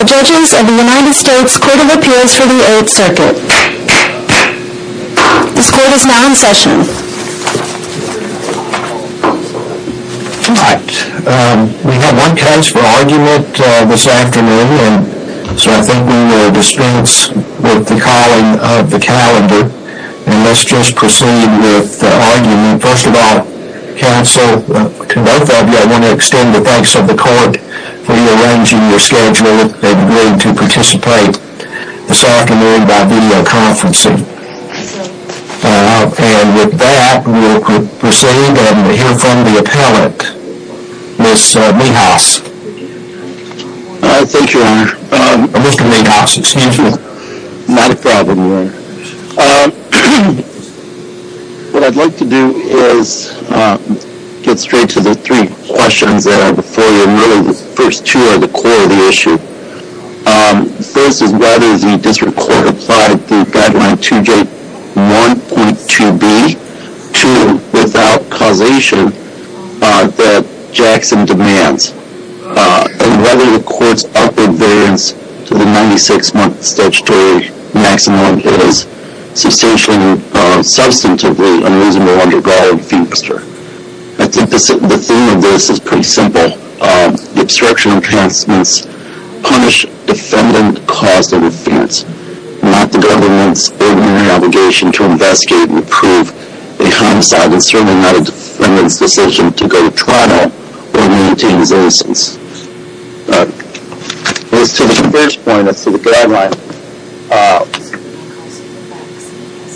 The Judges of the United States Court of Appeals for the Eighth Circuit. This court is now in session. All right, we have one case for argument this afternoon, so I think we will dispense with the calling of the calendar, and let's just proceed with the argument. First of all, counsel, to both of you, I want to extend the thanks of the court for rearranging your schedule and agreeing to participate this afternoon by videoconferencing. And with that, we will proceed and hear from the appellant, Ms. Meadhouse. Thank you, Your Honor. Mr. Meadhouse, excuse me. Not a problem, Your Honor. What I'd like to do is get straight to the three questions that are before you and really the first two are the core of the issue. The first is whether the district court applied the guideline 2J1.2b to without causation that Jackson demands, and whether the court's upward variance to the 96-month statutory maximum is substantially or substantively unreasonable under Garland v. Webster. I think the theme of this is pretty simple. The obstruction of transmission punish defendant caused in offense, not the government's ordinary obligation to investigate and approve a homicide and certainly not a defendant's decision to go to Toronto or maintain his innocence. As to the first point, as to the guideline,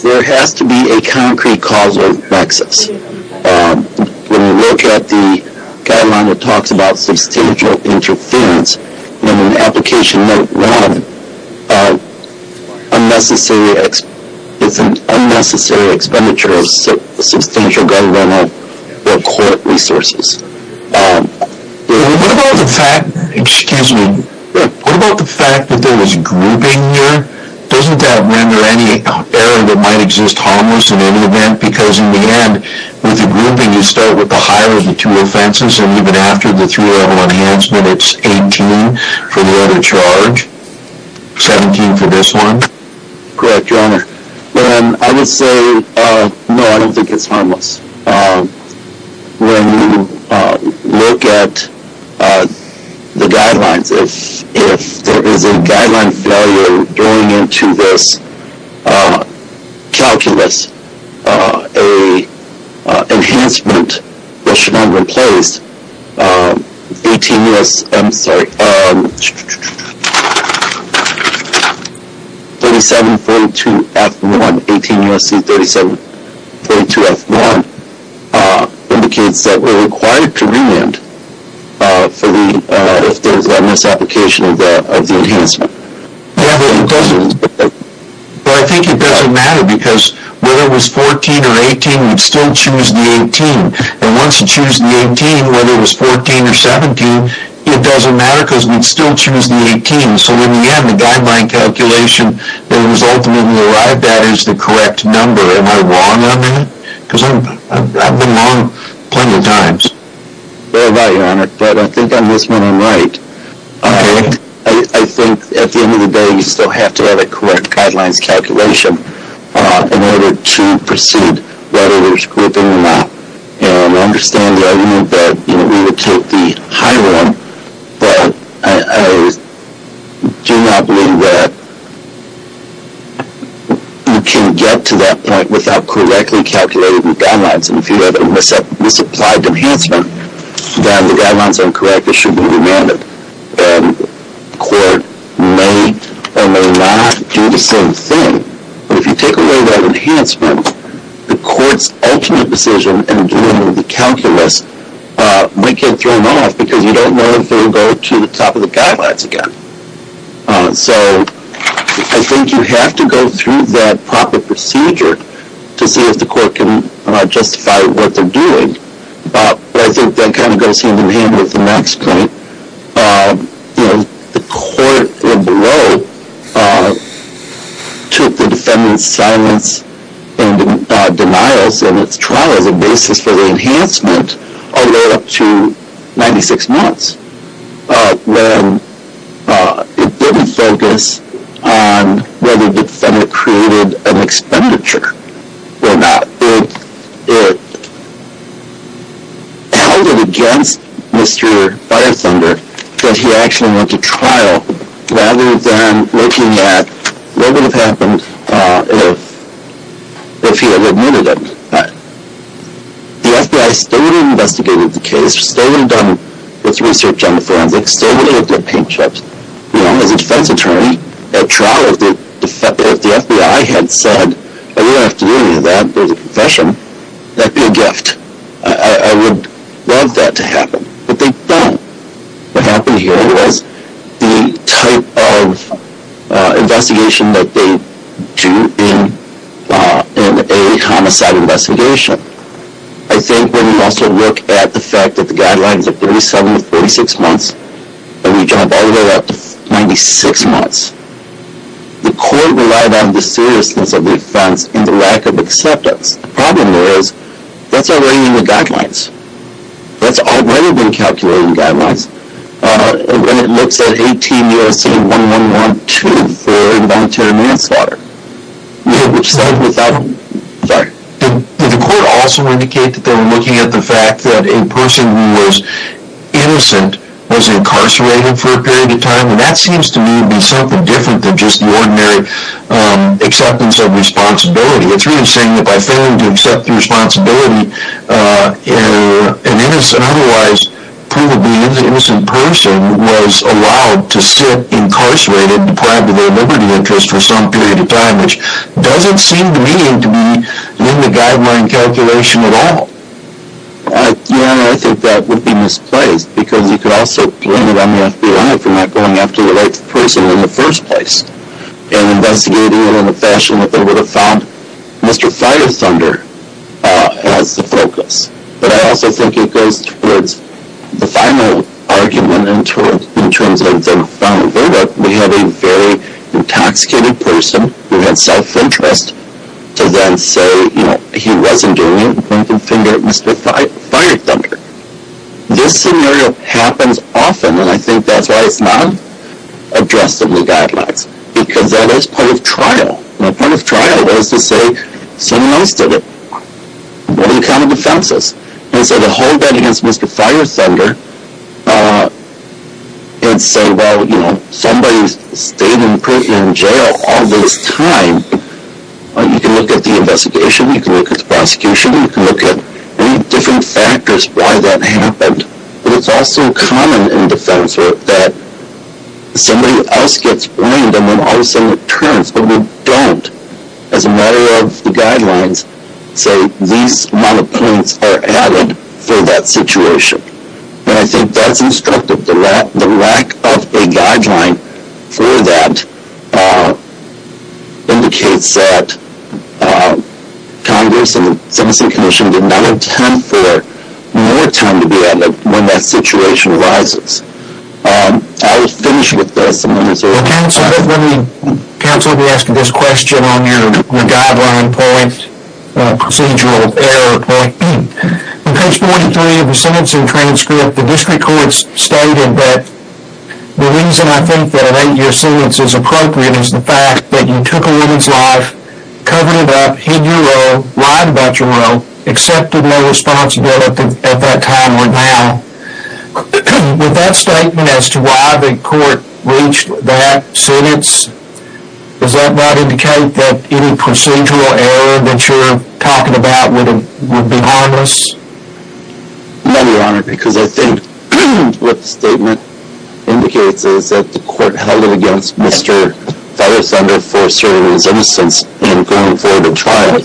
there has to be a concrete causal nexus. When you look at the guideline, it talks about substantial interference. And in Application Note 1, it's an unnecessary expenditure of substantial government or court resources. What about the fact that there was grouping here? Doesn't that render any error that might exist harmless in any event? Because in the end, with the grouping, you start with the higher of the two offenses, and even after the three-level enhancement, it's 18 for the other charge, 17 for this one. Correct, Your Honor. I would say, no, I don't think it's harmless. When you look at the guidelines, if there is a guideline failure going into this calculus, a enhancement that should not replace 3742F1, 18 U.S.C. 3742F1, indicates that we're required to remand if there's a misapplication of the enhancement. Do you have any questions? Well, I think it doesn't matter because whether it was 14 or 18, we'd still choose the 18. And once you choose the 18, whether it was 14 or 17, it doesn't matter because we'd still choose the 18. So in the end, the guideline calculation that it was ultimately arrived at is the correct number. Am I wrong on that? Because I've been wrong plenty of times. Fairly right, Your Honor. But I think on this one, I'm right. I think at the end of the day, you still have to have a correct guidelines calculation in order to proceed, whether there's gripping or not. And I understand the argument that we would take the higher one, but I do not believe that you can get to that point without correctly calculating the guidelines. And if you have a misapplied enhancement, then the guidelines are incorrect. It should be remanded. And the court may or may not do the same thing. But if you take away that enhancement, the court's ultimate decision in doing the calculus might get thrown off because you don't know if they'll go to the top of the guidelines again. So I think you have to go through that proper procedure to see if the court can justify what they're doing. But I think that kind of goes hand-in-hand with the next point. The court below took the defendant's silence and denials in its trial as a basis for the enhancement all the way up to 96 months. When it didn't focus on whether the defendant created an expenditure or not. It held it against Mr. Firethunder that he actually went to trial, rather than looking at what would have happened if he had admitted it. The FBI still would have investigated the case. Still would have done its research on the forensics. Still would have looked at paint jobs. As a defense attorney at trial, if the FBI had said, we don't have to do any of that, there's a confession, that would be a gift. I would love that to happen. But they don't. What happened here was the type of investigation that they do in a homicide investigation. I think when you also look at the fact that the guidelines are 37 to 46 months, and we jump all the way up to 96 months, the court relied on the seriousness of the offense and the lack of acceptance. The problem is, that's already in the guidelines. That's already been calculated in the guidelines. It looks at 18 U.S.C. 1112 for involuntary manslaughter. Did the court also indicate that they were looking at the fact that a person who was innocent was incarcerated for a period of time? That seems to me to be something different than just the ordinary acceptance of responsibility. It's really saying that by failing to accept the responsibility, an otherwise provably innocent person was allowed to sit incarcerated, deprived of their liberty interest for some period of time, which doesn't seem to me to be in the guideline calculation at all. Yeah, I think that would be misplaced, because you could also blame it on the FBI for not going after the right person in the first place and investigating it in a fashion that they would have found Mr. Fire Thunder as the focus. But I also think it goes towards the final argument in terms of the final verdict. We have a very intoxicated person who had self-interest to then say he wasn't doing it and point the finger at Mr. Fire Thunder. This scenario happens often, and I think that's why it's not addressed in the guidelines, because that is part of trial. Part of trial is to say, someone else did it. What are the kind of offenses? And so to hold that against Mr. Fire Thunder and say, well, somebody stayed in jail all this time, you can look at the investigation, you can look at the prosecution, you can look at any different factors why that happened. But it's also common in defense work that somebody else gets blamed and then all of a sudden it turns. But we don't, as a matter of the guidelines, say these malappointments are added for that situation. And I think that's instructive. The lack of a guideline for that indicates that Congress and the Sentencing Commission did not intend for more time to be added when that situation arises. I will finish with this. Counsel, let me ask you this question on your guideline point, procedural error point. In page 43 of the sentencing transcript, the district courts stated that the reason I think that an 8-year sentence is appropriate is the fact that you took a woman's life, covered it up, hid your role, lied about your role, accepted no responsibility at that time or now. Would that statement as to why the court reached that sentence, does that not indicate that any procedural error that you're talking about would be harmless? No, Your Honor, because I think what the statement indicates is that the court held it against Mr. Feather Thunder for serving his innocence and going forward with trial.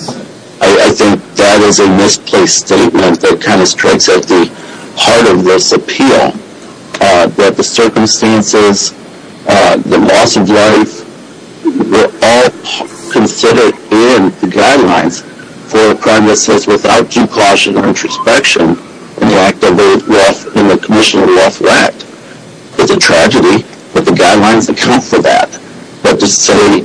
I think that is a misplaced statement that kind of strikes at the heart of this appeal. That the circumstances, the loss of life, were all considered in the guidelines for a crime that says without due caution or introspection, in the act of 8-1, in the Commission of Wealth Act. It's a tragedy that the guidelines account for that. But to say,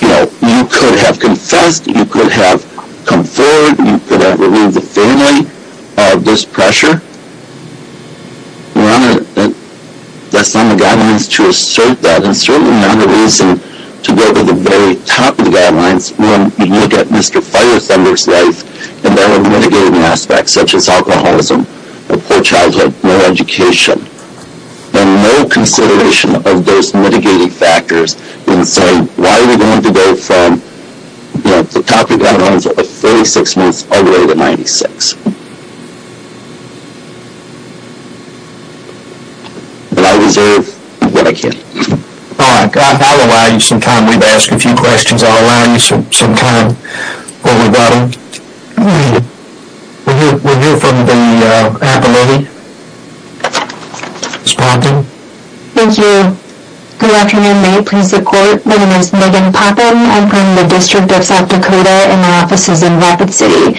you know, you could have confessed, you could have come forward, you could have removed the family out of this pressure. Your Honor, that's not in the guidelines to assert that. And certainly not a reason to go to the very top of the guidelines when you look at Mr. Feather Thunder's life and there were mitigating aspects such as alcoholism, poor childhood, low education. And no consideration of those mitigating factors in saying, why are we going to go from, you know, the top of the guidelines of 36 months all the way to 96? But I reserve what I can. All right, I'll allow you some time. We've asked a few questions. I'll allow you some time. We'll hear from the appellate. Thank you. Good afternoon. May it please the Court. My name is Megan Popham. I'm from the District of South Dakota and my office is in Rapid City.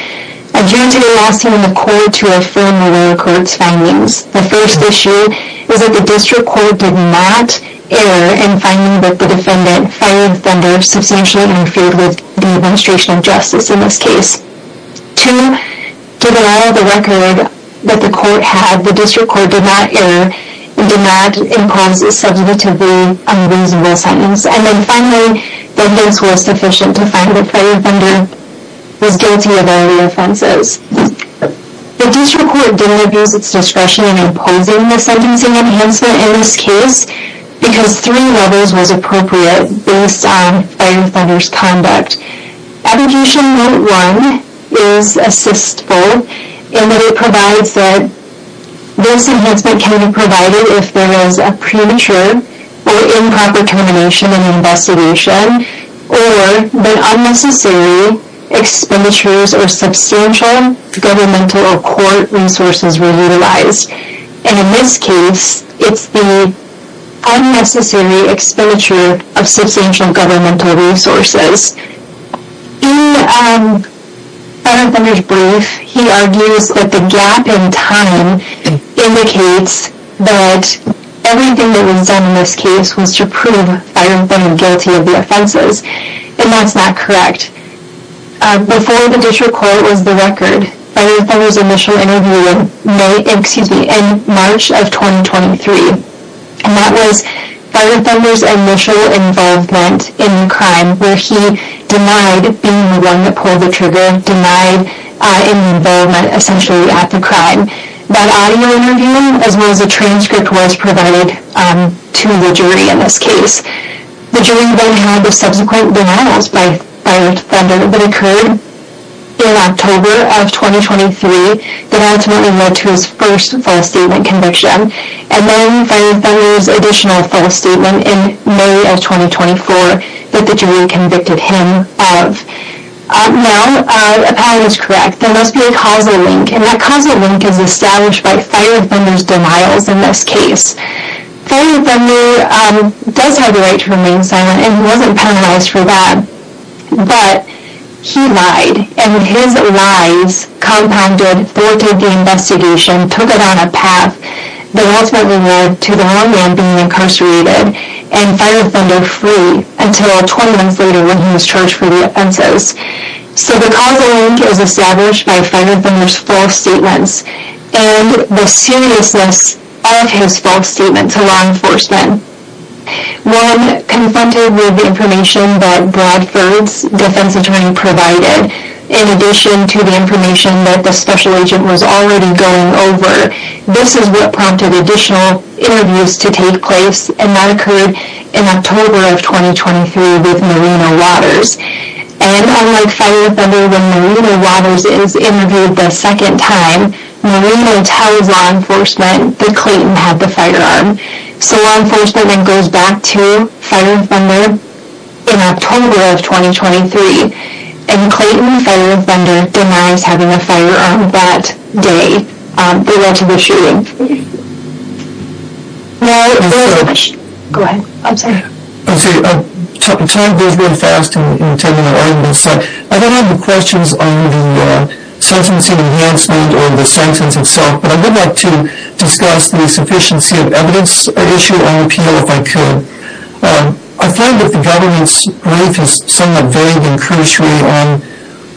I joined today last year in the Court to affirm the lower court's findings. The first issue is that the District Court did not err in finding that the defendant fired Thunder substantially in feud with the Administration of Justice in this case. Two, did allow the record that the court had. The District Court did not err and did not impose a substantively unreasonable sentence. And then finally, the evidence was sufficient to find that Fire Thunder was guilty of all the offenses. The District Court didn't abuse its discretion in imposing the sentencing enhancement in this case because three levels was appropriate based on Fire Thunder's conduct. Abrogation Note 1 is assistful in that it provides that this enhancement can be provided if there is a premature or improper termination in investigation or when unnecessary expenditures or substantial governmental or court resources were utilized. And in this case, it's the unnecessary expenditure of substantial governmental resources. In Fire Thunder's brief, he argues that the gap in time indicates that everything that was done in this case was to prove Fire Thunder guilty of the offenses. And that's not correct. Before the District Court was the record, Fire Thunder's initial interview was in March of 2023. And that was Fire Thunder's initial involvement in crime where he denied being the one that pulled the trigger, denied involvement essentially at the crime. That audio interview as well as the transcript was provided to the jury in this case. The jury then had subsequent denials by Fire Thunder that occurred in October of 2023 that ultimately led to his first false statement conviction. And then Fire Thunder's additional false statement in May of 2024 that the jury convicted him of. Now, if that is correct, there must be a causal link. And that causal link is established by Fire Thunder's denials in this case. Fire Thunder does have the right to remain silent and he wasn't penalized for that. But he lied. And his lies compounded, thwarted the investigation, took it on a path that ultimately led to the wrong man being incarcerated and Fire Thunder free until 20 months later when he was charged for the offenses. So the causal link is established by Fire Thunder's false statements and the seriousness of his false statements to law enforcement. When confronted with the information that Bradford's defense attorney provided, in addition to the information that the special agent was already going over, this is what prompted additional interviews to take place. And that occurred in October of 2023 with Marino Waters. And unlike Fire Thunder when Marino Waters is interviewed the second time, Marino tells law enforcement that Clayton had the firearm. So law enforcement then goes back to Fire Thunder in October of 2023. And Clayton and Fire Thunder denies having a firearm that day. They went to the shooting. Now, there is a question. Go ahead. I'm sorry. I'm sorry. Time goes really fast in attending an argument. So I don't have the questions on the sentencing enhancement or the sentence itself. But I would like to discuss the sufficiency of evidence issued on appeal if I could. I find that the government's brief is somewhat vague and cursory on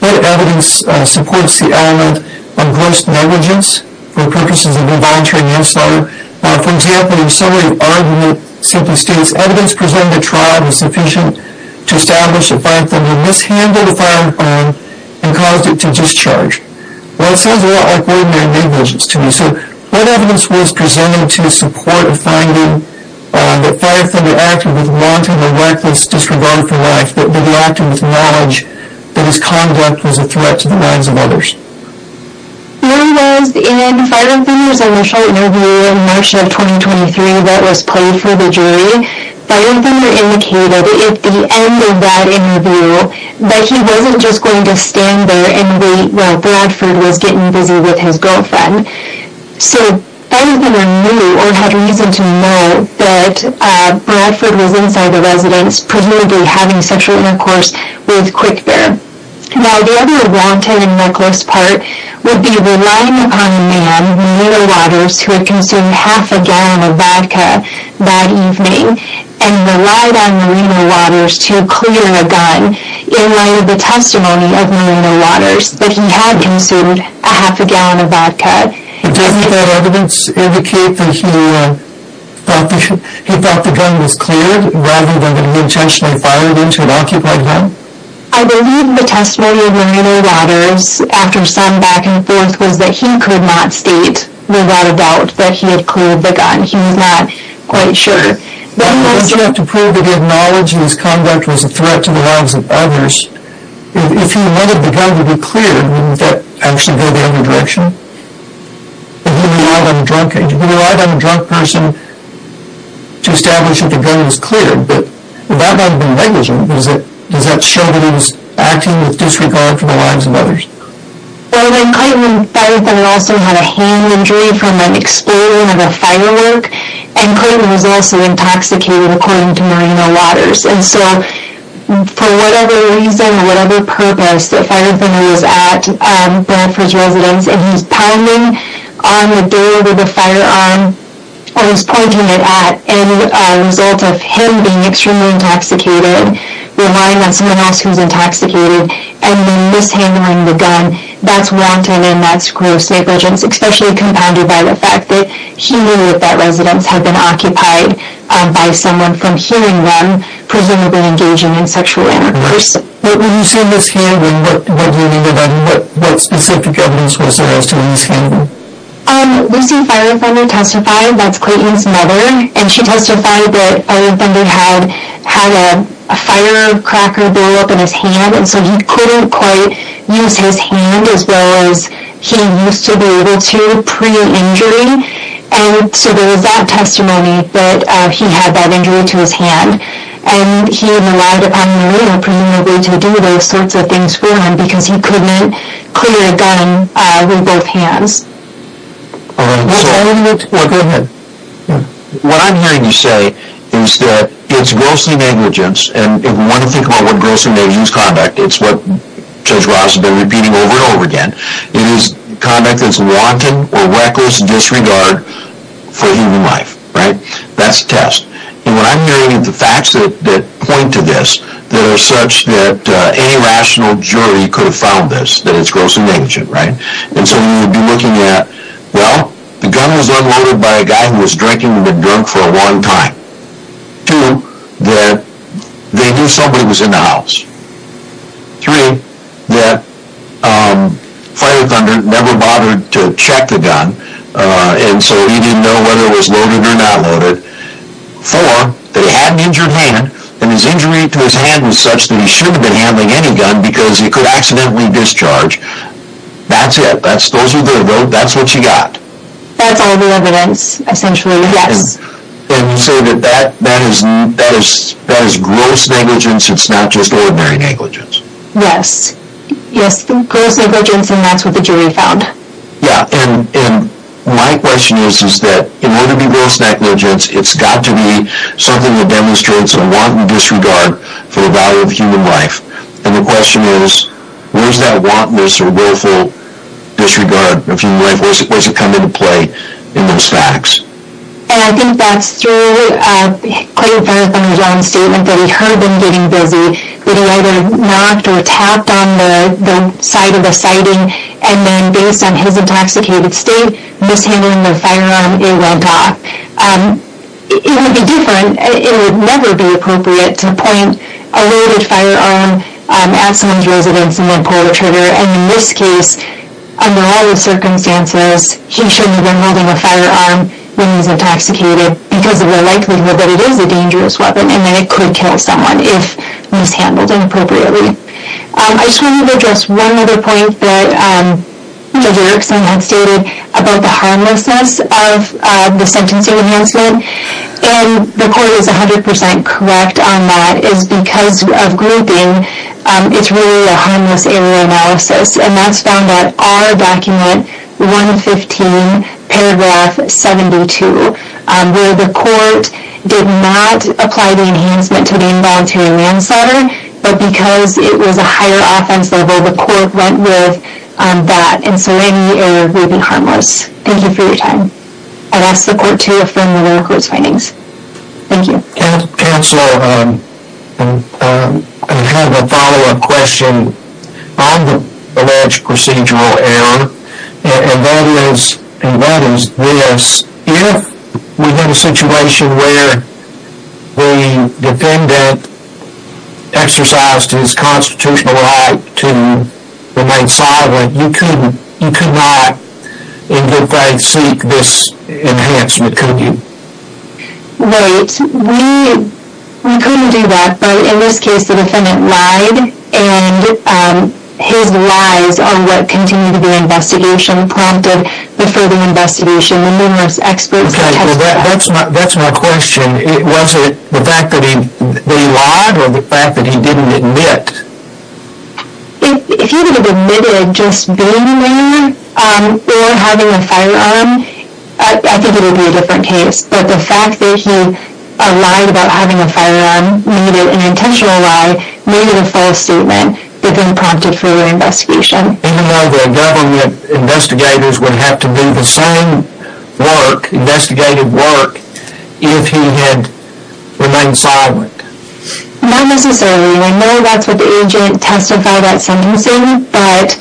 what evidence supports the element of gross negligence for purposes of involuntary manslaughter. For example, in summary of argument simply states, evidence presented at trial was sufficient to establish that Fire Thunder mishandled the firearm and caused it to discharge. Well, it sounds a lot like ordinary negligence to me. So what evidence was presented to support the finding that Fire Thunder acted with wanton or reckless disregard for life, that he reacted with knowledge that his conduct was a threat to the lives of others? There was in Fire Thunder's initial interview in March of 2023 that was played for the jury, Fire Thunder indicated at the end of that interview that he wasn't just going to stand there and wait while Bradford was getting busy with his girlfriend. So Fire Thunder knew or had reason to know that Bradford was inside the residence presumably having sexual intercourse with Quick Bear. Now the other wanton and reckless part would be relying upon a man, Marina Waters, who had consumed half a gallon of vodka that evening, and relied on Marina Waters to clear a gun in light of the testimony of Marina Waters that he had consumed a half a gallon of vodka. Doesn't that evidence indicate that he thought the gun was cleared rather than that he intentionally fired into an occupied gun? I believe the testimony of Marina Waters after some back and forth was that he could not state without a doubt that he had cleared the gun. He was not quite sure. But wouldn't you have to prove that he had knowledge that his conduct was a threat to the lives of others? If he had wanted the gun to be cleared, wouldn't that actually go the other direction? He relied on a drunk person to establish that the gun was cleared. Would that not have been negligent? Does that show that he was acting with disregard for the lives of others? Well then Clayton and Fire Thunder also had a hand injury from an explosion of a firework, and Clayton was also intoxicated according to Marina Waters. And so for whatever reason, whatever purpose, if Fire Thunder was at Bradford's residence, and he's pounding on the door with a firearm, or he's pointing it at, and a result of him being extremely intoxicated, relying on someone else who's intoxicated, and then mishandling the gun, that's wanton and that's gross negligence, especially compounded by the fact that he knew that that residence had been occupied by someone from hearing them, presumably engaging in sexual intercourse. When you say mishandling, what do you mean by that? What specific evidence was there as to mishandling? We've seen Fire Thunder testify, that's Clayton's mother, and she testified that Fire Thunder had a firecracker blow up in his hand, and so he couldn't quite use his hand as well as he used to be able to pre-injury, and so there was that testimony that he had that injury to his hand, and he relied upon Marina to be able to do those sorts of things for him, because he couldn't clear a gun with both hands. What I'm hearing you say is that it's gross negligence, and if you want to think about what gross negligence is conduct, it's what Judge Ross has been repeating over and over again, it is conduct that's wanton or reckless disregard for human life, right? That's a test. And what I'm hearing are the facts that point to this, that are such that any rational jury could have found this, that it's gross negligence, right? And so you'd be looking at, well, the gun was unloaded by a guy who was drinking and had been drunk for a long time. Two, that they knew somebody was in the house. Three, that Fire Thunder never bothered to check the gun, and so he didn't know whether it was loaded or not loaded. Four, that he had an injured hand, and his injury to his hand was such that he shouldn't have been handling any gun, because he could accidentally discharge. That's it. Those are the, that's what you got. That's all the evidence, essentially, yes. And so that is gross negligence, it's not just ordinary negligence? Yes. Yes, gross negligence, and that's what the jury found. Yeah, and my question is, is that in order to be gross negligence, it's got to be something that demonstrates a wanton disregard for the value of human life. And the question is, where does that wantonness or willful disregard of human life, where does it come into play in those facts? And I think that's through Clay Fire Thunder's own statement that he heard them getting busy, that he either knocked or tapped on the side of the sighting, and then based on his intoxicated state, mishandling the firearm, it went off. It would be different, it would never be appropriate to point a loaded firearm at someone's residence and then pull the trigger, and in this case, under all the circumstances, he shouldn't have been holding a firearm when he was intoxicated because of the likelihood that it is a dangerous weapon and that it could kill someone if mishandled inappropriately. I just wanted to address one other point that Judge Erickson had stated about the harmlessness of the sentencing enhancement, and the court is 100% correct on that, is because of grouping, it's really a harmless area analysis, and that's found at R document 115 paragraph 72, where the court did not apply the enhancement to the involuntary manslaughter, but because it was a higher offense level, the court went with that, and so any area would be harmless. Thank you for your time. I'll ask the court to affirm the lower court's findings. Thank you. Counsel, I have a follow-up question on the alleged procedural error, and that is this. If we have a situation where the defendant exercised his constitutional right to remain silent, you could not, in good faith, seek this enhancement, could you? Right. We couldn't do that, but in this case the defendant lied, and his lies are what continued the investigation, prompted the further investigation. The numerous experts have testified. That's my question. Was it the fact that he lied, or the fact that he didn't admit? If he would have admitted just being there, or having a firearm, I think it would be a different case, but the fact that he lied about having a firearm, made it an intentional lie, made it a false statement, but then prompted further investigation. Even though the government investigators would have to do the same work, investigative work, if he had remained silent? Not necessarily. I know that's what the agent testified at sentencing, but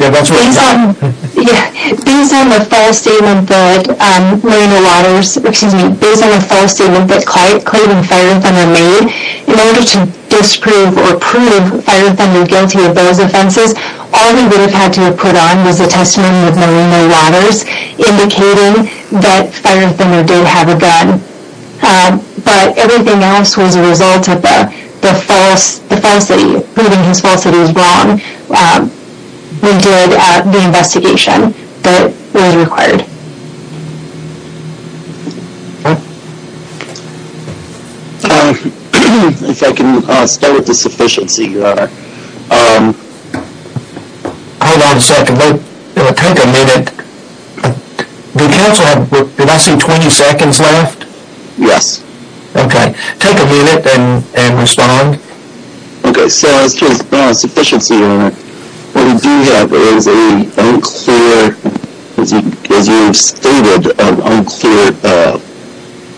based on the false statement that Clayton Feirenthender made, in order to disprove or prove Feirenthender guilty of those offenses, all he would have had to have put on was a testimony with Melinda Waters indicating that Feirenthender did have a gun, but everything else was a result of the false, the falsity, proving his falsity was wrong. We did the investigation that was required. If I can start with the sufficiency, Your Honor. Hold on a second. Take a minute. Do counsel have less than 20 seconds left? Yes. Okay. Take a minute and respond. Okay. So as far as sufficiency, Your Honor, what we do have is an unclear, as you have stated, an unclear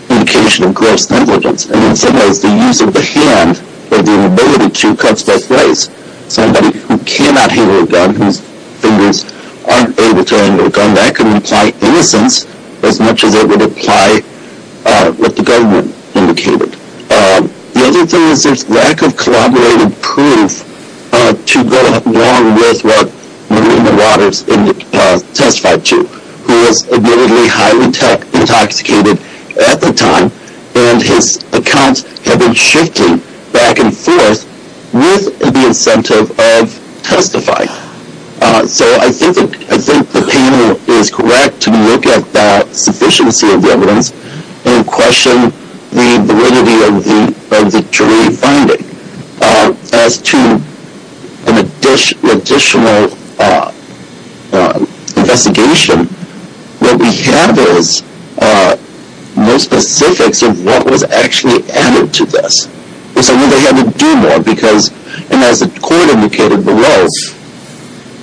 indication of gross negligence. And in some ways, the use of the hand or the inability to cuts both ways. Somebody who cannot handle a gun, whose fingers aren't able to handle a gun, that can imply innocence as much as it would apply what the government indicated. The other thing is there's lack of corroborated proof to go along with what Melinda Waters testified to, who was admittedly highly intoxicated at the time, and his accounts have been shifting back and forth with the incentive of testifying. So I think the panel is correct to look at that sufficiency of evidence and question the validity of the jury finding. As to an additional investigation, what we have is no specifics of what was actually added to this. So they had to do more because, and as the court indicated below,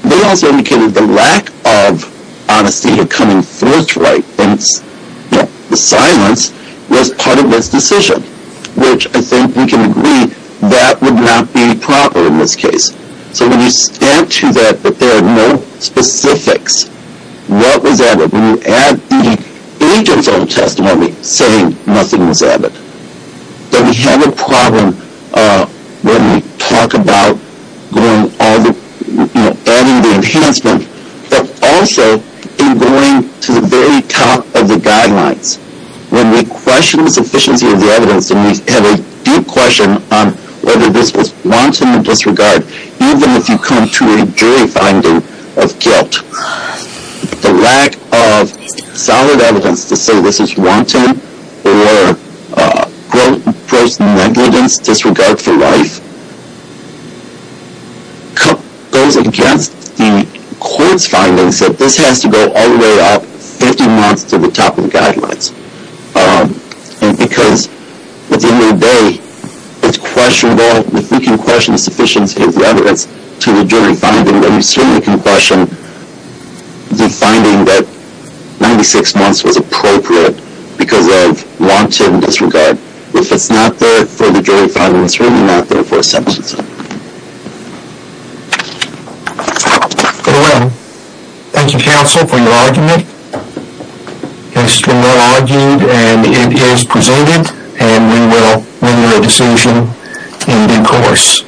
they also indicated the lack of honesty of coming forth right, hence the silence, was part of this decision, which I think we can agree that would not be proper in this case. So when you add to that that there are no specifics, what was added? When you add the agent's own testimony saying nothing was added, then we have a problem when we talk about adding the enhancement, but also in going to the very top of the guidelines. When we question the sufficiency of the evidence, and we have a deep question on whether this was wanton or disregard, even if you come to a jury finding of guilt, the lack of solid evidence to say this is wanton or gross negligence, disregard for life, goes against the court's findings that this has to go all the way up 50 months to the top of the guidelines. And because at the end of the day it's questionable if we can question the sufficiency of the evidence to the jury finding, when we certainly can question the finding that 96 months was appropriate because of wanton disregard. If it's not there for the jury finding, it's really not there for a sentencing. Thank you counsel for your argument. It's been well argued and it is presented, and we will render a decision in due course.